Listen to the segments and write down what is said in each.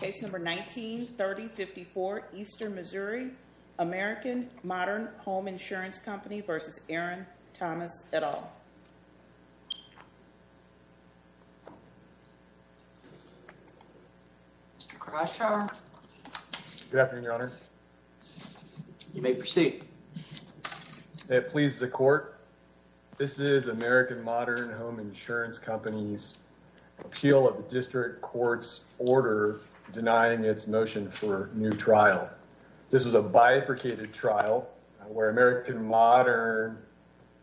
Case number 19-3054, Eastern Missouri, American Modern Home Insurance Company v. Aaron Thomas, et al. Mr. Crusher. Good afternoon, Your Honor. You may proceed. It pleases the Court. This is American Modern Home Insurance Company's appeal of the district court's order denying its motion for new trial. This was a bifurcated trial where American Modern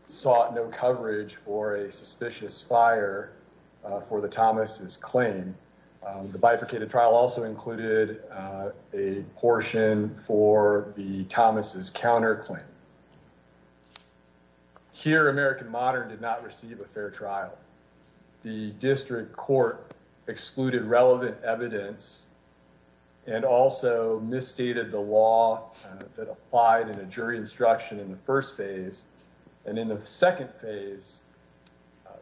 sought no coverage for a suspicious fire for the Thomas's claim. The bifurcated trial also included a portion for the Thomas's counterclaim. Here, American Modern did not receive a fair trial. The district court excluded relevant evidence and also misstated the law that applied in a jury instruction in the first phase. And in the second phase,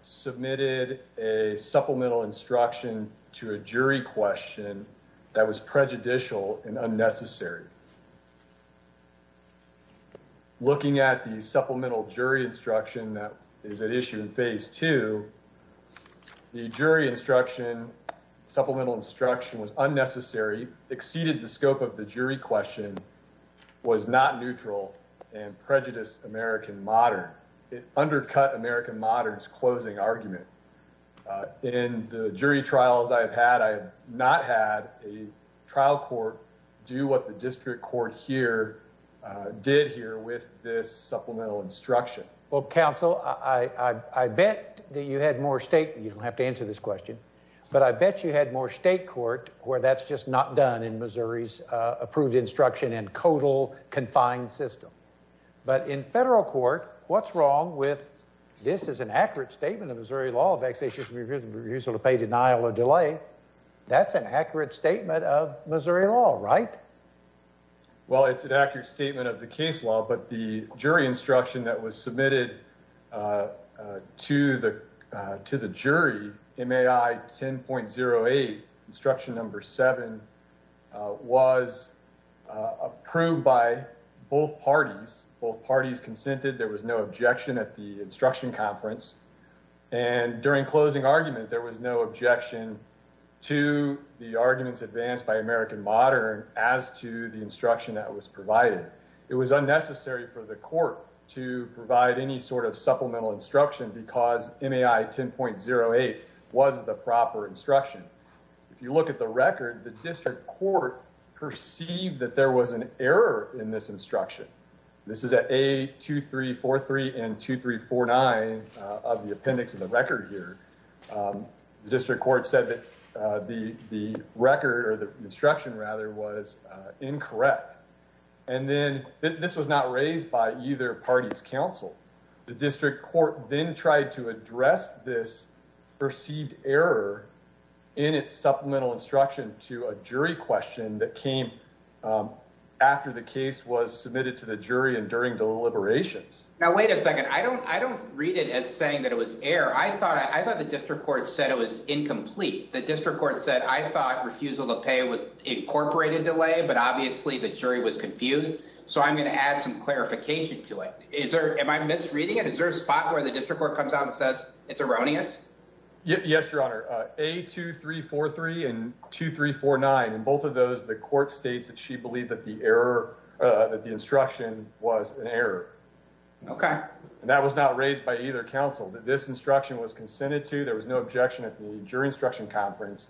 submitted a supplemental instruction to a jury question that was prejudicial and unnecessary. Looking at the supplemental jury instruction that is at issue in phase two, the jury instruction, supplemental instruction, was unnecessary, exceeded the scope of the jury question, was not neutral, and prejudiced American Modern. It undercut American Modern's closing argument. In the jury trials I've had, I have not had a trial court do what the district court here did here with this supplemental instruction. Well, counsel, I bet that you had more state, you don't have to answer this question, but I bet you had more state court where that's just not done in Missouri's approved instruction and total confined system. But in federal court, what's wrong with this is an accurate statement of Missouri law, vexatious refusal to pay denial or delay. That's an accurate statement of Missouri law, right? Well, it's an accurate statement of the case law, but the jury instruction that was submitted to the jury, MAI 10.08, instruction number seven, was approved by both parties. Both parties consented. There was no objection at the instruction conference. And during closing argument, there was no objection to the arguments advanced by American Modern as to the instruction that was provided. It was unnecessary for the court to provide any sort of supplemental instruction because MAI 10.08 was the proper instruction. If you look at the record, the district court perceived that there was an error in this instruction. This is at A2343 and 2349 of the appendix of the record here. The district court said that the record or the instruction rather was incorrect. And then this was not raised by either party's counsel. The district court then tried to address this perceived error in its supplemental instruction to a jury question that came after the case was submitted to the jury and during deliberations. Now, wait a second. I don't I don't read it as saying that it was air. I thought I thought the district court said it was incomplete. The district court said I thought refusal to pay was incorporated delay. But obviously, the jury was confused. So I'm going to add some clarification to it. Is there am I misreading it? Is there a spot where the district court comes out and says it's erroneous? Yes, Your Honor. A2343 and 2349. And both of those, the court states that she believed that the error that the instruction was an error. Okay, and that was not raised by either counsel that this instruction was consented to. There was no objection at the jury instruction conference.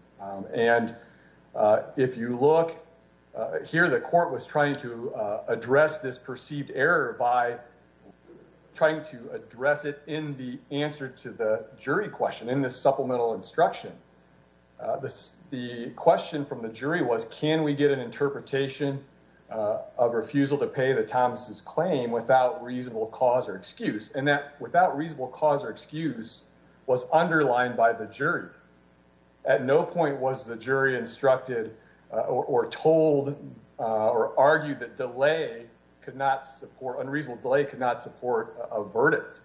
And if you look here, the court was trying to address this perceived error by trying to address it in the answer to the jury question in this supplemental instruction. The question from the jury was, can we get an interpretation of refusal to pay the Thomas's claim without reasonable cause or excuse? And that without reasonable cause or excuse was underlined by the jury. At no point was the jury instructed or told or argued that delay could not support unreasonable delay, could not support a verdict.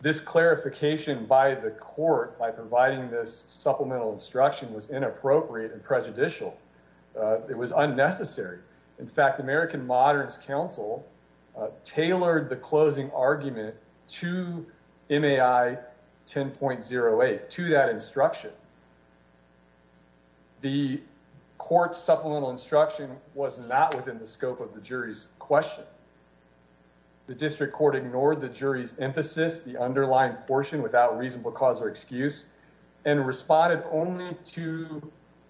This clarification by the court by providing this supplemental instruction was inappropriate and prejudicial. It was unnecessary. In fact, American Moderns Council tailored the closing argument to MAI 10.08 to that instruction. The court supplemental instruction was not within the scope of the jury's question. The district court ignored the jury's emphasis, the underlying portion without reasonable cause or excuse, and responded only to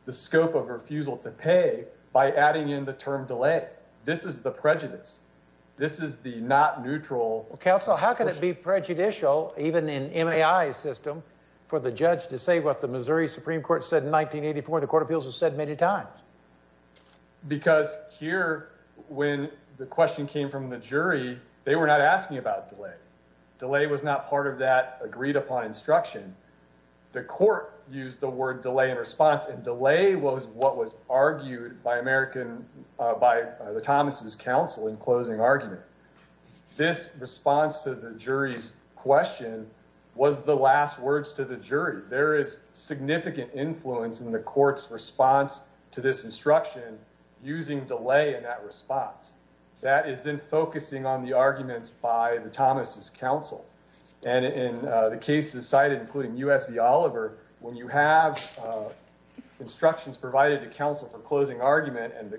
the scope of refusal to pay by adding in the term delay. This is the prejudice. This is the not neutral counsel. How can it be prejudicial even in M.A.I. system for the judge to say what the Missouri Supreme Court said in 1984? The Court of Appeals has said many times. Because here, when the question came from the jury, they were not asking about delay. Delay was not part of that agreed upon instruction. The court used the word delay in response, and delay was what was argued by American by the Thomas's counsel in closing argument. This response to the jury's question was the last words to the jury. There is significant influence in the court's response to this instruction using delay in that response. That is in focusing on the arguments by the Thomas's counsel. In the cases cited, including U.S. v. Oliver, when you have instructions provided to counsel for closing argument, and the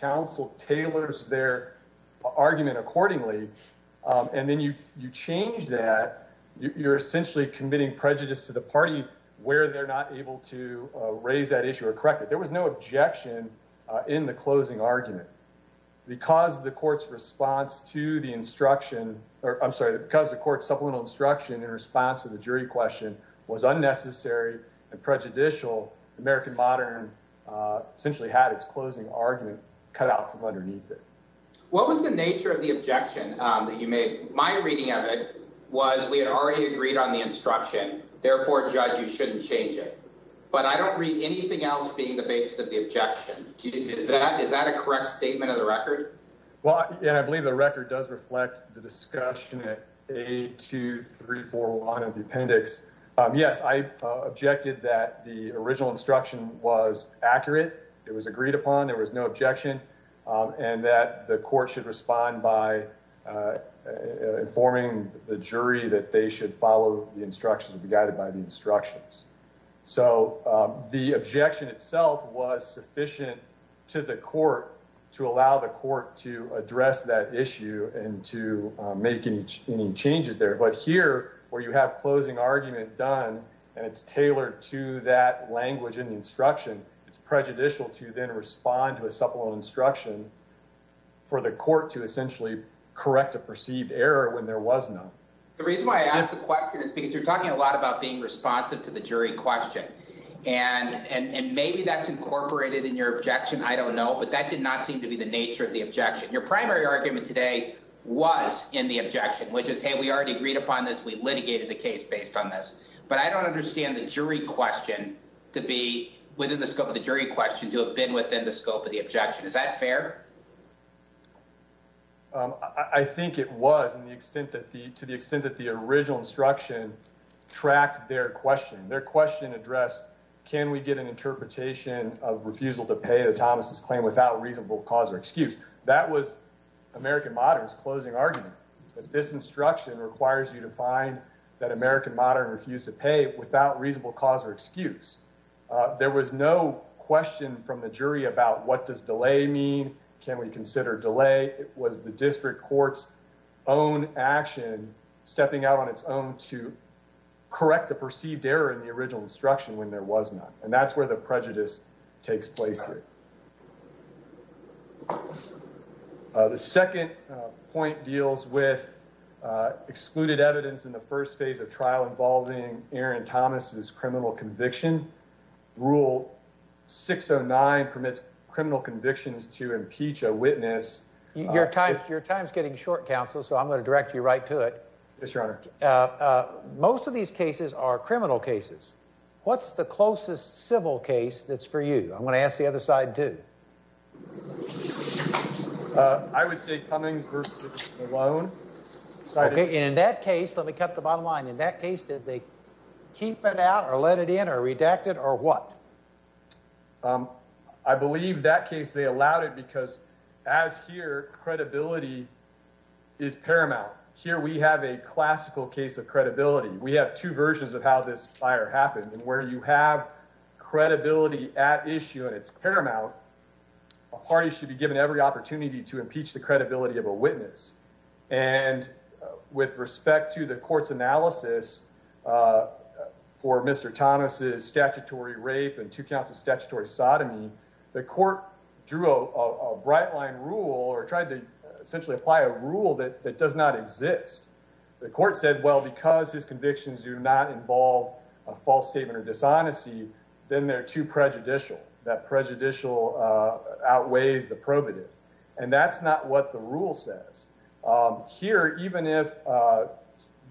counsel tailors their argument accordingly, and then you change that, you're essentially committing prejudice to the party where they're not able to raise that issue or correct it. There was no objection in the closing argument. Because the court's response to the instruction, or I'm sorry, because the court's supplemental instruction in response to the jury question was unnecessary and prejudicial, American modern essentially had its closing argument cut out from underneath it. What was the nature of the objection that you made? My reading of it was we had already agreed on the instruction. Therefore, judge, you shouldn't change it. But I don't read anything else being the basis of the objection. Is that is that a correct statement of the record? Well, and I believe the record does reflect the discussion at 82341 of the appendix. Yes, I objected that the original instruction was accurate. It was agreed upon. There was no objection and that the court should respond by informing the jury that they should follow the instructions and be guided by the instructions. So the objection itself was sufficient to the court to allow the court to address that issue and to make any changes there. But here, where you have closing argument done, and it's tailored to that language and instruction, it's prejudicial to then respond to a supplemental instruction for the court to essentially correct a perceived error when there was none. The reason why I ask the question is because you're talking a lot about being responsive to the jury question, and maybe that's incorporated in your objection. I don't know. But that did not seem to be the nature of the objection. Your primary argument today was in the objection, which is, hey, we already agreed upon this. We litigated the case based on this. But I don't understand the jury question to be within the scope of the jury question to have been within the scope of the objection. Is that fair? I think it was in the extent that the to the extent that the original instruction tracked their question, their question addressed. Can we get an interpretation of refusal to pay the Thomas's claim without reasonable cause or excuse? That was American Modern's closing argument. This instruction requires you to find that American Modern refused to pay without reasonable cause or excuse. There was no question from the jury about what does delay mean? Can we consider delay? It was the district court's own action stepping out on its own to correct the perceived error in the original instruction when there was none. And that's where the prejudice takes place. The second point deals with excluded evidence in the first phase of trial involving Aaron Thomas's criminal conviction. Rule six or nine permits criminal convictions to impeach a witness. Your time, your time's getting short, counsel. So I'm going to direct you right to it. Yes, your honor. Most of these cases are criminal cases. What's the closest civil case that's for you? I'm going to ask the other side to. I would say Cummings versus alone. In that case, let me cut the bottom line. In that case, did they keep it out or let it in or redacted or what? I believe that case they allowed it because as here, credibility is paramount. Here we have a classical case of credibility. We have two versions of how this fire happened and where you have credibility at issue and it's paramount. A party should be given every opportunity to impeach the credibility of a witness. And with respect to the court's analysis for Mr. Thomas's statutory rape and two counts of statutory sodomy, the court drew a bright line rule or tried to essentially apply a rule that does not exist. The court said, well, because his convictions do not involve a false statement or dishonesty, then they're too prejudicial. That prejudicial outweighs the probative. And that's not what the rule says here. Even if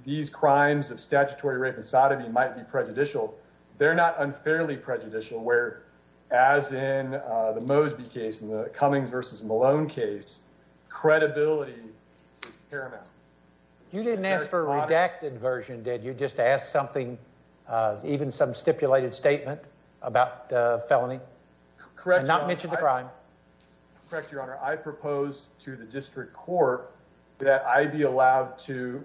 these crimes of statutory rape and sodomy might be prejudicial, they're not unfairly prejudicial, where, as in the Mosby case in the Cummings versus Malone case, credibility. Paramount. You didn't ask for a redacted version, did you? Just ask something, even some stipulated statement about felony. Correct. Not mention the crime. Correct. Your Honor, I propose to the district court that I be allowed to,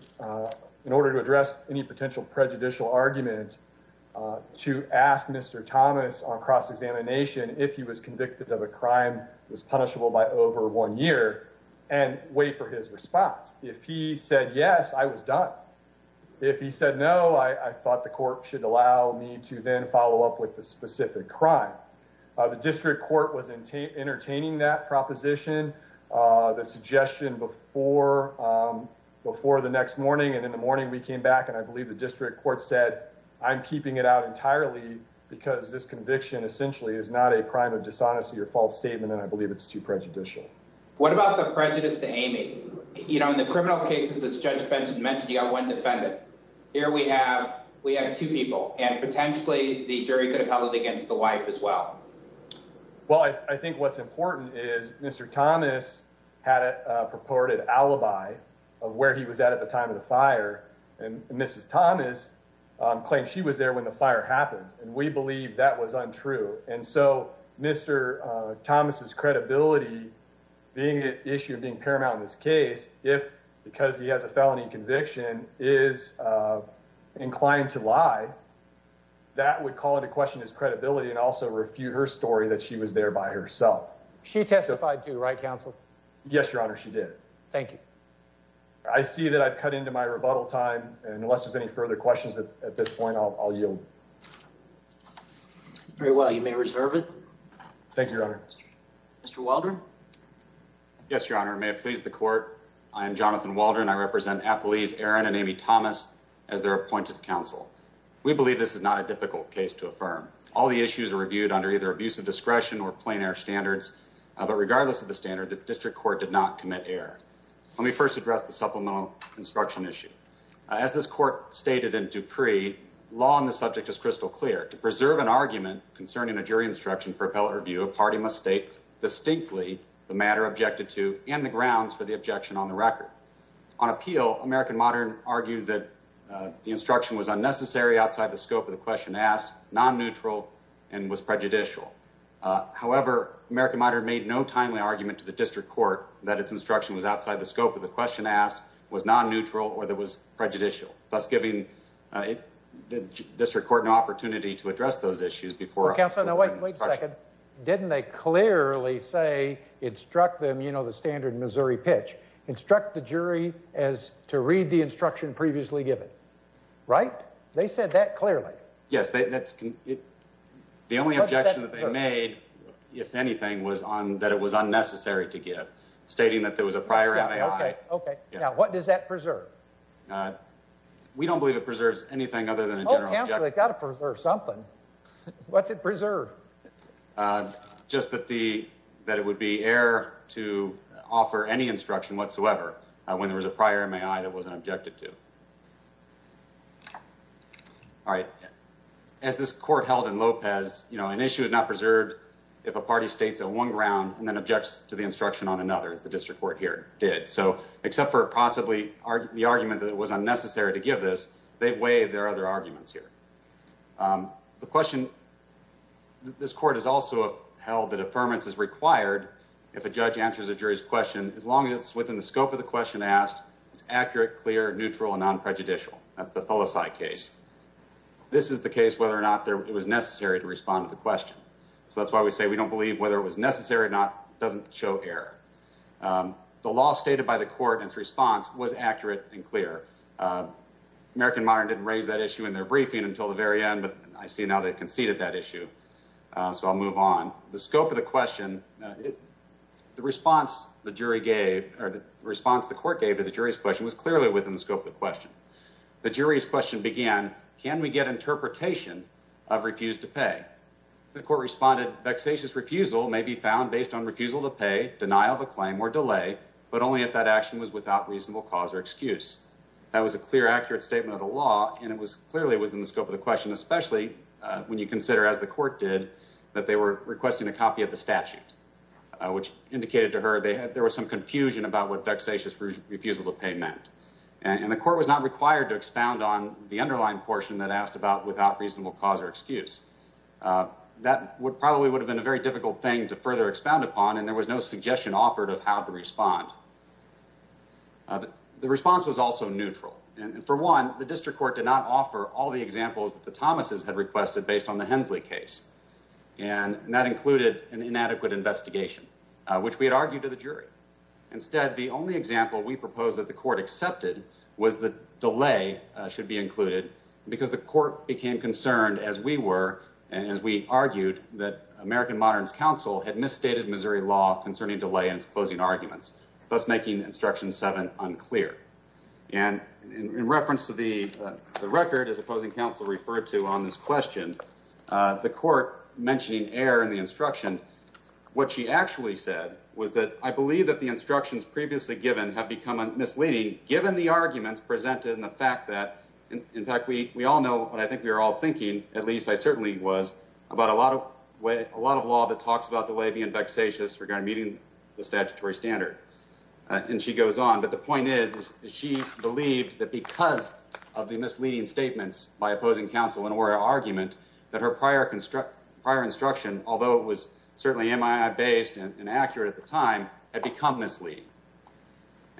in order to address any potential prejudicial argument, to ask Mr. Thomas on cross-examination if he was convicted of a crime that was punishable by over one year and wait for his response. If he said yes, I was done. If he said no, I thought the court should allow me to then follow up with the specific crime. The district court was entertaining that proposition, the suggestion before the next morning. And in the morning we came back and I believe the district court said, I'm keeping it entirely because this conviction essentially is not a crime of dishonesty or false statement, and I believe it's too prejudicial. What about the prejudice to Amy? In the criminal cases, as Judge Benson mentioned, you got one defendant. Here we have two people, and potentially the jury could have held it against the wife as well. Well, I think what's important is Mr. Thomas had a purported alibi of where he was at at the time of the fire, and Mrs. Thomas claimed she was there when the fire happened, and we believe that was untrue. And so Mr. Thomas's credibility being an issue of being paramount in this case, if because he has a felony conviction, is inclined to lie, that would call into question his credibility and also refute her story that she was there by herself. She testified too, right, counsel? Yes, your honor, she did. Thank you. I see that I've cut into my rebuttal time, and unless there's any further questions at this point, I'll yield. Very well, you may reserve it. Thank you, your honor. Mr. Waldron? Yes, your honor, may it please the court. I am Jonathan Waldron. I represent Appalese Aaron and Amy Thomas as their appointed counsel. We believe this is not a difficult case to affirm. All the issues are reviewed under either abusive discretion or plain air standards, but regardless of the standard, the district court did not commit error. Let me first address the supplemental instruction issue. As this court stated in Dupree, law on the subject is crystal clear. To preserve an argument concerning a jury instruction for appellate review, a party must state distinctly the matter objected to and the grounds for the objection on the record. On appeal, American Modern argued that the instruction was unnecessary outside the scope of the question asked, non-neutral, and was prejudicial. However, American Modern made no timely argument to the district court that its instruction was outside the scope of the question asked, was non-neutral, or that was prejudicial, thus giving the district court no opportunity to address those issues before... Counselor, now wait a second. Didn't they clearly say instruct them, you know, the standard Missouri pitch, instruct the jury as to read the instruction previously given, right? They said that clearly. Yes, the only objection that they made, if anything, was on that it was unnecessary to give, stating that there was a prior MAI. Okay, now what does that preserve? We don't believe it preserves anything other than a general... Counselor, they got to preserve something. What's it preserve? Just that it would be error to offer any instruction whatsoever when there was a prior MAI that wasn't objected to. Okay. All right. As this court held in Lopez, you know, an issue is not preserved if a party states on one ground and then objects to the instruction on another, as the district court here did. So, except for possibly the argument that it was unnecessary to give this, they've waived their other arguments here. The question... This court has also held that affirmance is required if a judge answers a jury's question, as long as it's within the scope of the question asked, it's accurate, clear, neutral, and non-prejudicial. That's the Felici case. This is the case whether or not it was necessary to respond to the question. So, that's why we say we don't believe whether it was necessary or not doesn't show error. The law stated by the court and its response was accurate and clear. American Modern didn't raise that issue in their briefing until the very end, but I see now they conceded that issue. So, I'll move on. The scope of the question, the response the jury gave, or the response the court gave to the jury's question was clearly within the scope of the question. The jury's question began, can we get interpretation of refuse to pay? The court responded, vexatious refusal may be found based on refusal to pay, denial of a claim, or delay, but only if that action was without reasonable cause or excuse. That was a clear, accurate statement of the law, and it was clearly within the scope of the question, especially when you consider, as the court did, that they were requesting a copy of the statute, which indicated to her there was some confusion about what vexatious refusal to pay meant, and the court was not required to expound on the underlying portion that asked about without reasonable cause or excuse. That probably would have been a very difficult thing to further expound upon, and there was no suggestion offered of how to respond. The response was also neutral, and for one, the district court did not offer all the examples that the Thomases had requested based on the Hensley case, and that included an inadequate investigation, which we had argued to the jury. Instead, the only example we proposed that the court accepted was the delay should be included, because the court became concerned, as we were, and as we argued, that American Modern's counsel had misstated Missouri law concerning delay in its closing arguments, thus making Instruction 7 unclear. And in reference to the record, as opposing counsel referred to on this question, the court mentioning error in the instruction, what she actually said was that, I believe that the instructions previously given have become misleading, given the arguments presented and the fact that, in fact, we all know what I think we were all thinking, at least I certainly was, about a lot of law that talks about delay being vexatious regarding meeting the statutory standard. And she goes on, but the point is, she believed that because of the misleading statements by opposing counsel in her argument, that her prior instruction, although it was certainly MII-based and accurate at the time, had become misleading.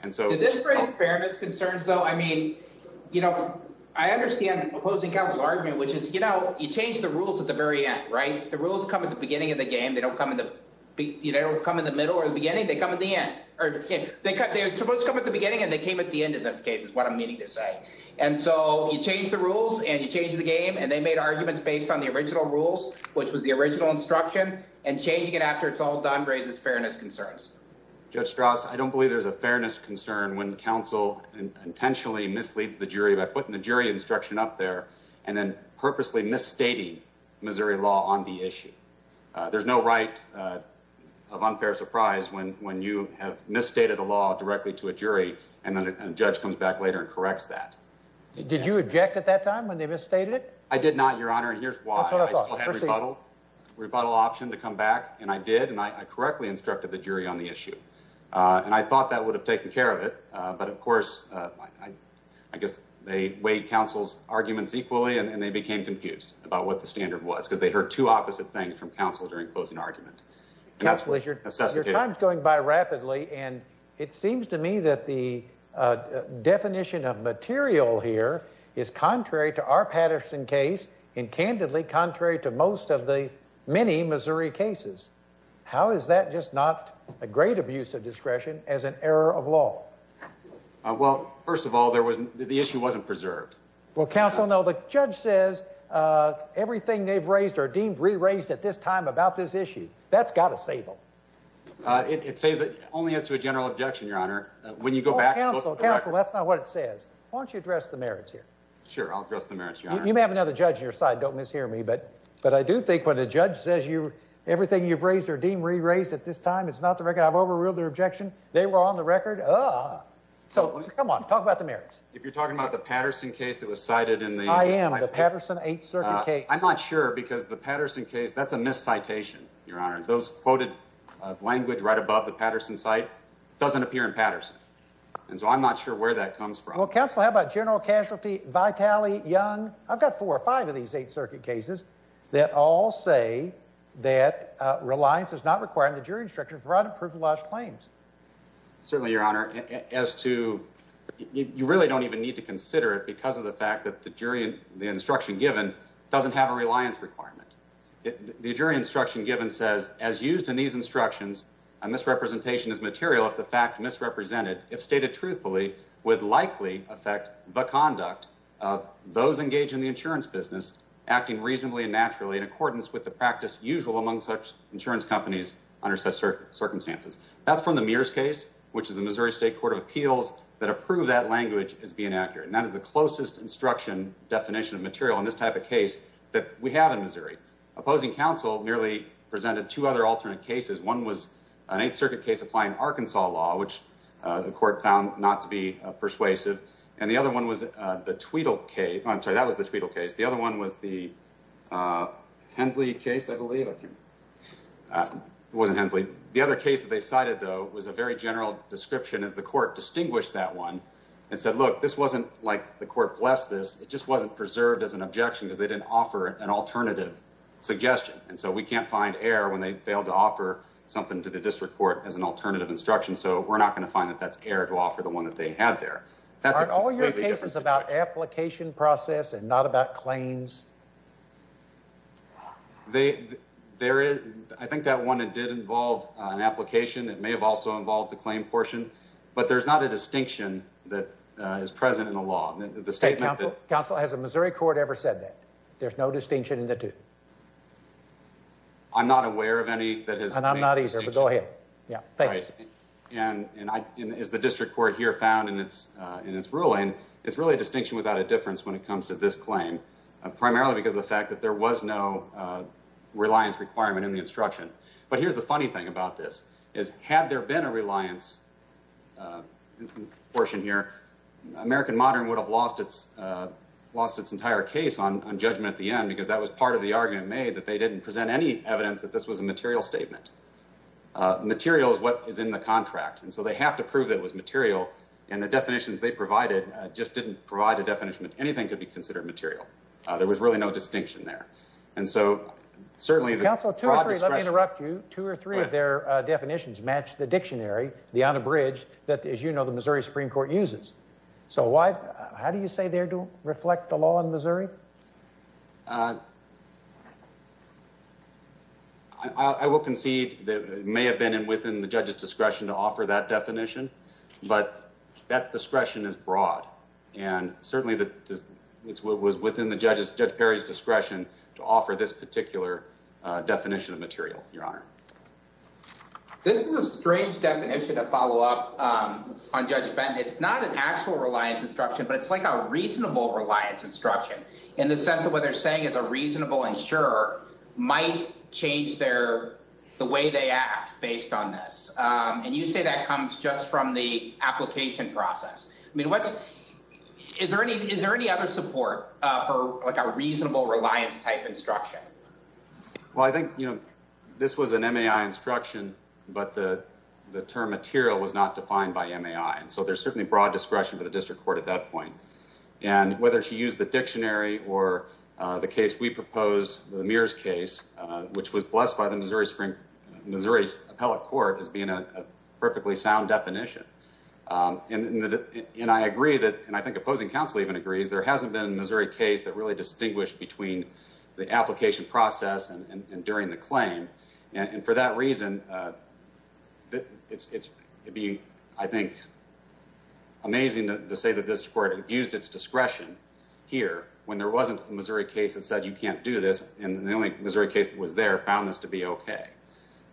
Did this raise fairness concerns, though? I mean, you know, I understand opposing counsel's argument, which is, you know, you change the rules at the very end, right? The rules come at the beginning of the game. They don't come in the middle or the beginning. They come in the end. They're supposed to come at the beginning, and they came at the end in this case, is what I'm meaning to say. And so you change the rules, and you change the game, and they made arguments based on the original rules, which was the original instruction, and changing it after it's all done raises fairness concerns. Judge Strauss, I don't believe there's a fairness concern when counsel intentionally misleads the jury by putting the jury instruction up there and then purposely misstating Missouri law on the issue. There's no right of unfair surprise when you have misstated the law directly to a jury, and then a judge comes back later and corrects that. Did you object at that time when they misstated it? I did not, Your Honor, and here's why. I still had a rebuttal option to come back, and I did, and I correctly instructed the jury on the issue. And I thought that would have taken care of it, but of course, I guess they weighed counsel's arguments equally, and they became confused about what the standard was because they heard two opposite things from counsel during closing argument. Your time's going by rapidly, and it seems to me that the definition of material here is contrary to our Patterson case, and candidly contrary to most of the many Missouri cases. How is that just not a great abuse of discretion as an error of law? Well, first of all, the issue wasn't preserved. Well, counsel, no. The judge says everything they've raised or deemed re-raised at this time about this issue. That's got to save them. It saves it only as to a general objection, Your Honor. When you go back... Counsel, counsel, that's not what it says. Why don't you address the merits here? Sure, I'll address the merits, Your Honor. You may have another judge on your side. Don't mishear me, but I do think when a judge says everything you've raised or deemed re-raised at this time, it's not the record. I've overruled their objection. They were on the record. So, come on. Talk about the merits. If you're talking about the Patterson case that was cited in the... I am. The Patterson eight-circuit case. I'm not sure because the Patterson case, that's a mis-citation, Your Honor. Those quoted language right above the Patterson site doesn't appear in Patterson. And so, I'm not sure where that comes from. Well, counsel, how about general casualty, Vitale, Young? I've got four or five of these eight-circuit cases that all say that reliance is not required in the jury instruction for unapproved alleged claims. Certainly, Your Honor. As to... You really don't even need to consider it because of the fact that the instruction given doesn't have a reliance requirement. The jury instruction given says, as used in these instructions, a misrepresentation is material if the fact misrepresented, if stated truthfully, would likely affect the conduct of those engaged in the insurance business acting reasonably and naturally in accordance with the practice usual among such insurance companies under such circumstances. That's from the Mears case, which is the Missouri State Court of Appeals that approved that language as being accurate. And that is the closest instruction definition of material in this type of case that we have in Missouri. Opposing counsel merely presented two other alternate cases. One was an eighth-circuit case applying Arkansas law, which the court found not to be persuasive. And the other one was the Tweedle case. I'm sorry, that was the Tweedle case. The other one was the Hensley case, I believe. It wasn't Hensley. The other case that they cited, though, was a very general description as the court distinguished that one and said, look, this wasn't like the court blessed this. It just wasn't preserved as an objection because they didn't offer an alternative suggestion. And so we can't find error when they failed to offer something to the district court as an alternative instruction, so we're not going to find that that's error to offer the one that they had there. Are all your cases about application process and not about claims? There is. I think that one, it did involve an application. It may have also involved the claim portion, but there's not a distinction that is present in the law. The state counsel... Has the Missouri court ever said that? There's no distinction in the two? I'm not aware of any that has... And I'm not either, but go ahead. Yeah, thanks. And as the district court here found in its ruling, it's really a distinction without a claim, primarily because of the fact that there was no reliance requirement in the instruction. But here's the funny thing about this, is had there been a reliance portion here, American Modern would have lost its entire case on judgment at the end because that was part of the argument made that they didn't present any evidence that this was a material statement. Material is what is in the contract, and so they have to prove that it was material, and the definitions they provided just didn't provide a definition that anything could be considered material. There was really no distinction there, and so certainly... Counsel, two or three, let me interrupt you. Two or three of their definitions match the dictionary, the unabridged, that, as you know, the Missouri Supreme Court uses. So why, how do you say they don't reflect the law in Missouri? I will concede that it may have been within the judge's discretion to offer that definition, but that discretion is broad, and certainly it was within Judge Perry's discretion to offer this particular definition of material, Your Honor. This is a strange definition to follow up on Judge Benton. It's not an actual reliance instruction, but it's like a reasonable reliance instruction in the sense that what they're saying is a reasonable insurer might change the way they act based on this. And you say that comes just from the application process. I mean, what's... Is there any other support for a reasonable reliance type instruction? Well, I think this was an MAI instruction, but the term material was not defined by MAI, and so there's certainly broad discretion for the district court at that point. And whether she used the dictionary or the case we proposed, the Mears case, which was blessed by the Missouri Supreme... Missouri Appellate Court as being a definition. And I agree that... And I think opposing counsel even agrees there hasn't been a Missouri case that really distinguished between the application process and during the claim. And for that reason, it'd be, I think, amazing to say that this court used its discretion here when there wasn't a Missouri case that said you can't do this, and the only Missouri case that found this to be okay.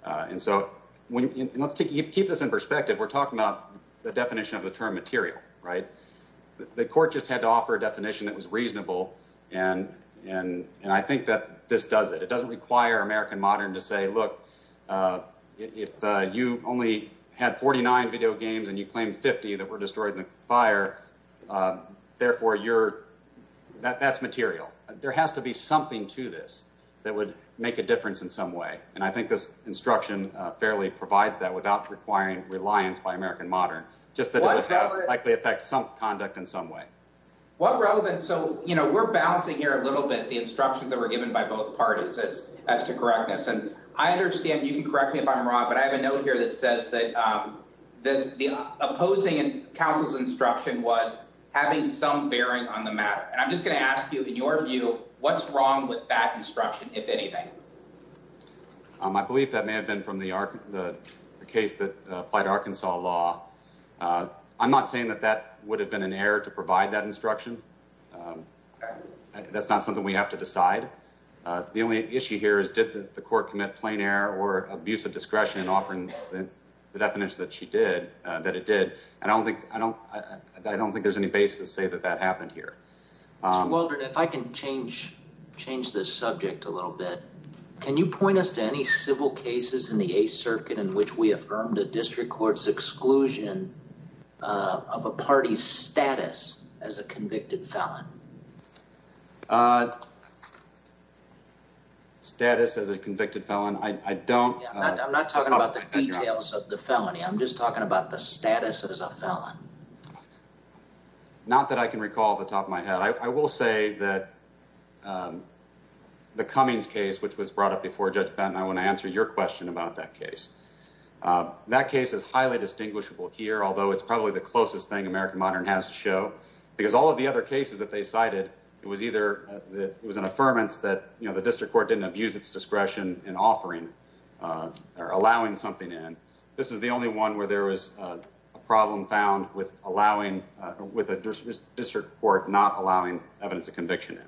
And so let's keep this in perspective. We're talking about the definition of the term material, right? The court just had to offer a definition that was reasonable, and I think that this does it. It doesn't require American Modern to say, look, if you only had 49 video games and you claimed 50 that were destroyed in the fire, therefore, you're... That's material. There has to be something to this that would make a difference in some way, and I think this instruction fairly provides that without requiring reliance by American Modern, just that it would likely affect some conduct in some way. What relevance? So, you know, we're balancing here a little bit the instructions that were given by both parties as to correctness, and I understand you can correct me if I'm wrong, but I have a note here that says that the opposing counsel's instruction was having some bearing on the matter, and I'm just going to ask you, in your view, what's wrong with that instruction, if anything? I believe that may have been from the case that applied Arkansas law. I'm not saying that that would have been an error to provide that instruction. That's not something we have to decide. The only issue here is, did the court commit plain error or abuse of discretion in offering the definition that it did? I don't think there's any basis to say that that happened here. Mr. Waldron, if I can change this subject a little bit. Can you point us to any civil cases in the Eighth Circuit in which we affirmed a district court's exclusion of a party's status as a convicted felon? Status as a convicted felon? I'm not talking about the details of the felony. I'm just talking about the status as a felon. Not that I can recall off the top of my head. I will say that the Cummings case, which was brought up before Judge Benton, I want to answer your question about that case. That case is highly distinguishable here, although it's probably the closest thing American Modern has to show, because all of the other cases that they cited, it was either that it was an affirmance that the district court didn't abuse its discretion in offering or allowing something in. This is the only one where there was a problem found with a district court not allowing evidence of conviction.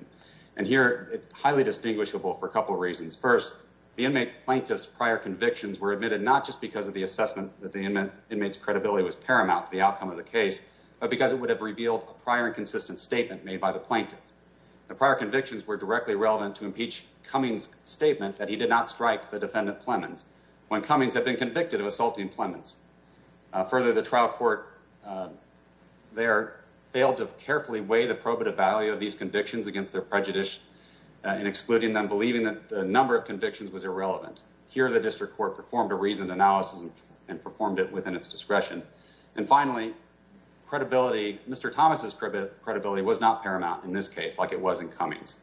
Here, it's highly distinguishable for a couple of reasons. First, the inmate plaintiff's prior convictions were admitted not just because of the assessment that the inmate's credibility was paramount to the outcome of the case, but because it would have revealed a prior and consistent statement made by the plaintiff. The prior convictions were directly relevant to impeach Cummings' statement that he did not strike the defendant Plemons when Cummings had been convicted of assaulting Plemons. Further, the trial court there failed to carefully weigh the probative value of these convictions against their prejudice in excluding them, believing that the number of convictions was irrelevant. Here, the district court performed a reasoned analysis and performed it within its credibility. Mr. Thomas's credibility was not paramount in this case like it was in Cummings.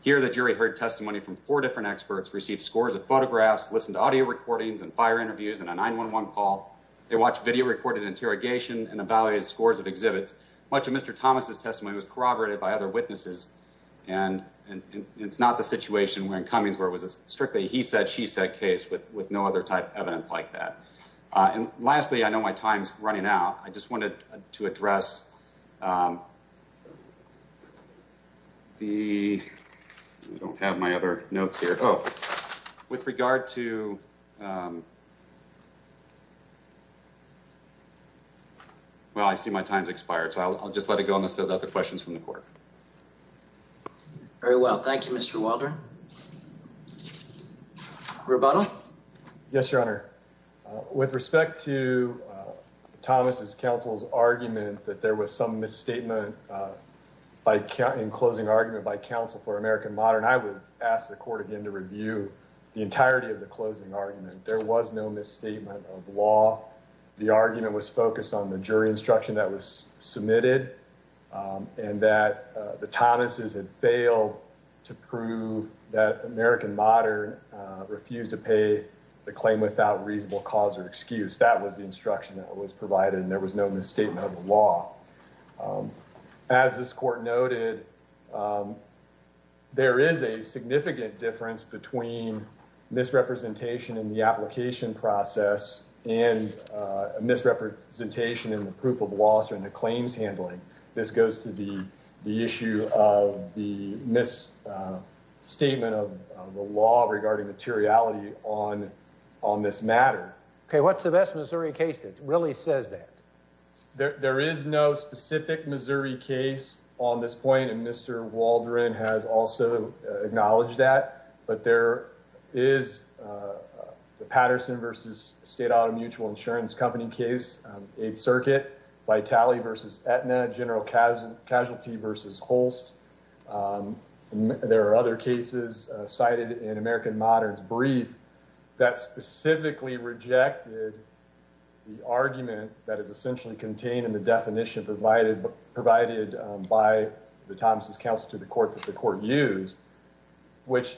Here, the jury heard testimony from four different experts, received scores of photographs, listened to audio recordings and fire interviews and a 911 call. They watched video recorded interrogation and evaluated scores of exhibits. Much of Mr. Thomas's testimony was corroborated by other witnesses, and it's not the situation where in Cummings where it was a strictly he said, she said case with no other type of evidence like that. And lastly, I know my time's running out. I just wanted to address, um, the, I don't have my other notes here. Oh, with regard to, um, well, I see my time's expired, so I'll just let it go. And this is other questions from the court. Very well. Thank you, Mr. Wilder. Roboto. Yes, Your Honor. With respect to Thomas's counsel's argument that there was some misstatement by counting closing argument by counsel for American modern, I would ask the court again to review the entirety of the closing argument. There was no misstatement of law. The argument was focused on the jury instruction that was submitted and that the Thomas's had failed to prove that American modern refused to pay the claim without reasonable cause or excuse. That was the instruction that was provided, and there was no misstatement of the law. As this court noted, there is a significant difference between misrepresentation in the application process and misrepresentation in the proof of law. So in the claims handling, this goes to the issue of the misstatement of the law regarding materiality on this matter. Okay, what's the best Missouri case that really says that? There is no specific Missouri case on this point, and Mr. Waldron has also acknowledged that, but there is the Patterson v. State Auto Mutual Insurance Company case, Eighth Circuit, Vitali v. Aetna, General Casualty v. Holst. There are other cases cited in American modern's brief that specifically rejected the argument that is essentially contained in the definition provided by the Thomas's counsel to the court that the court used, which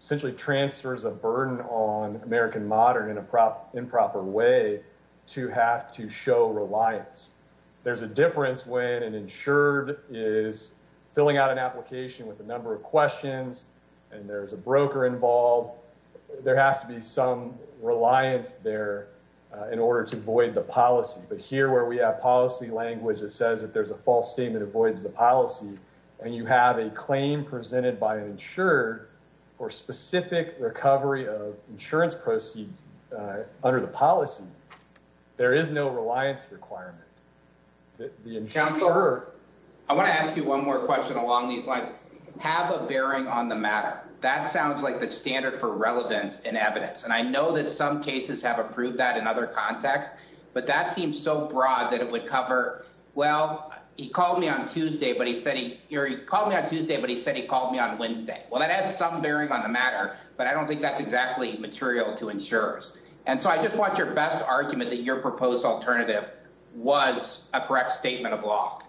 essentially transfers a burden on American modern in an improper way to have to show reliance. There's a difference when an insured is filling out an application with a number of questions, and there's a broker involved. There has to be some reliance there in order to void the policy, but here where we have policy language that says that there's a false statement avoids the and you have a claim presented by an insured for specific recovery of insurance proceeds under the policy, there is no reliance requirement. I want to ask you one more question along these lines. Have a bearing on the matter. That sounds like the standard for relevance and evidence, and I know that some cases have approved that in other contexts, but that seems so broad that it would cover, well, he called me on Tuesday, but he said he called me on Tuesday, but he said he called me on Wednesday. Well, that has some bearing on the matter, but I don't think that's exactly material to insurers, and so I just want your best argument that your proposed alternative was a correct statement of law.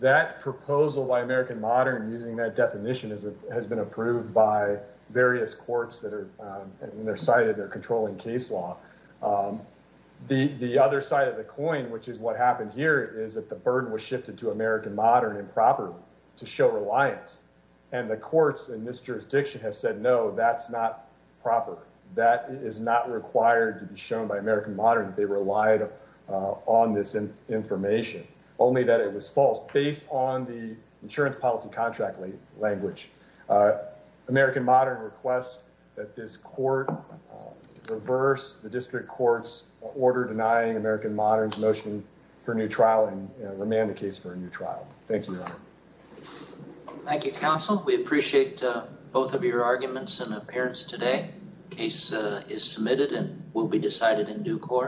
That proposal by American modern using that definition has been approved by various courts that are, and they're cited, they're controlling case law. The other side of the coin, which is what happened here is that the burden was shifted to American modern improper to show reliance and the courts in this jurisdiction have said, no, that's not proper. That is not required to be shown by American modern. They relied on this information only that it was false based on the insurance policy contract language. American modern requests that this court reverse the district court's order denying American modern's motion for a new trial and remand the case for a new trial. Thank you. Thank you, counsel. We appreciate both of your arguments and appearance today. Case is submitted and will be decided in due course.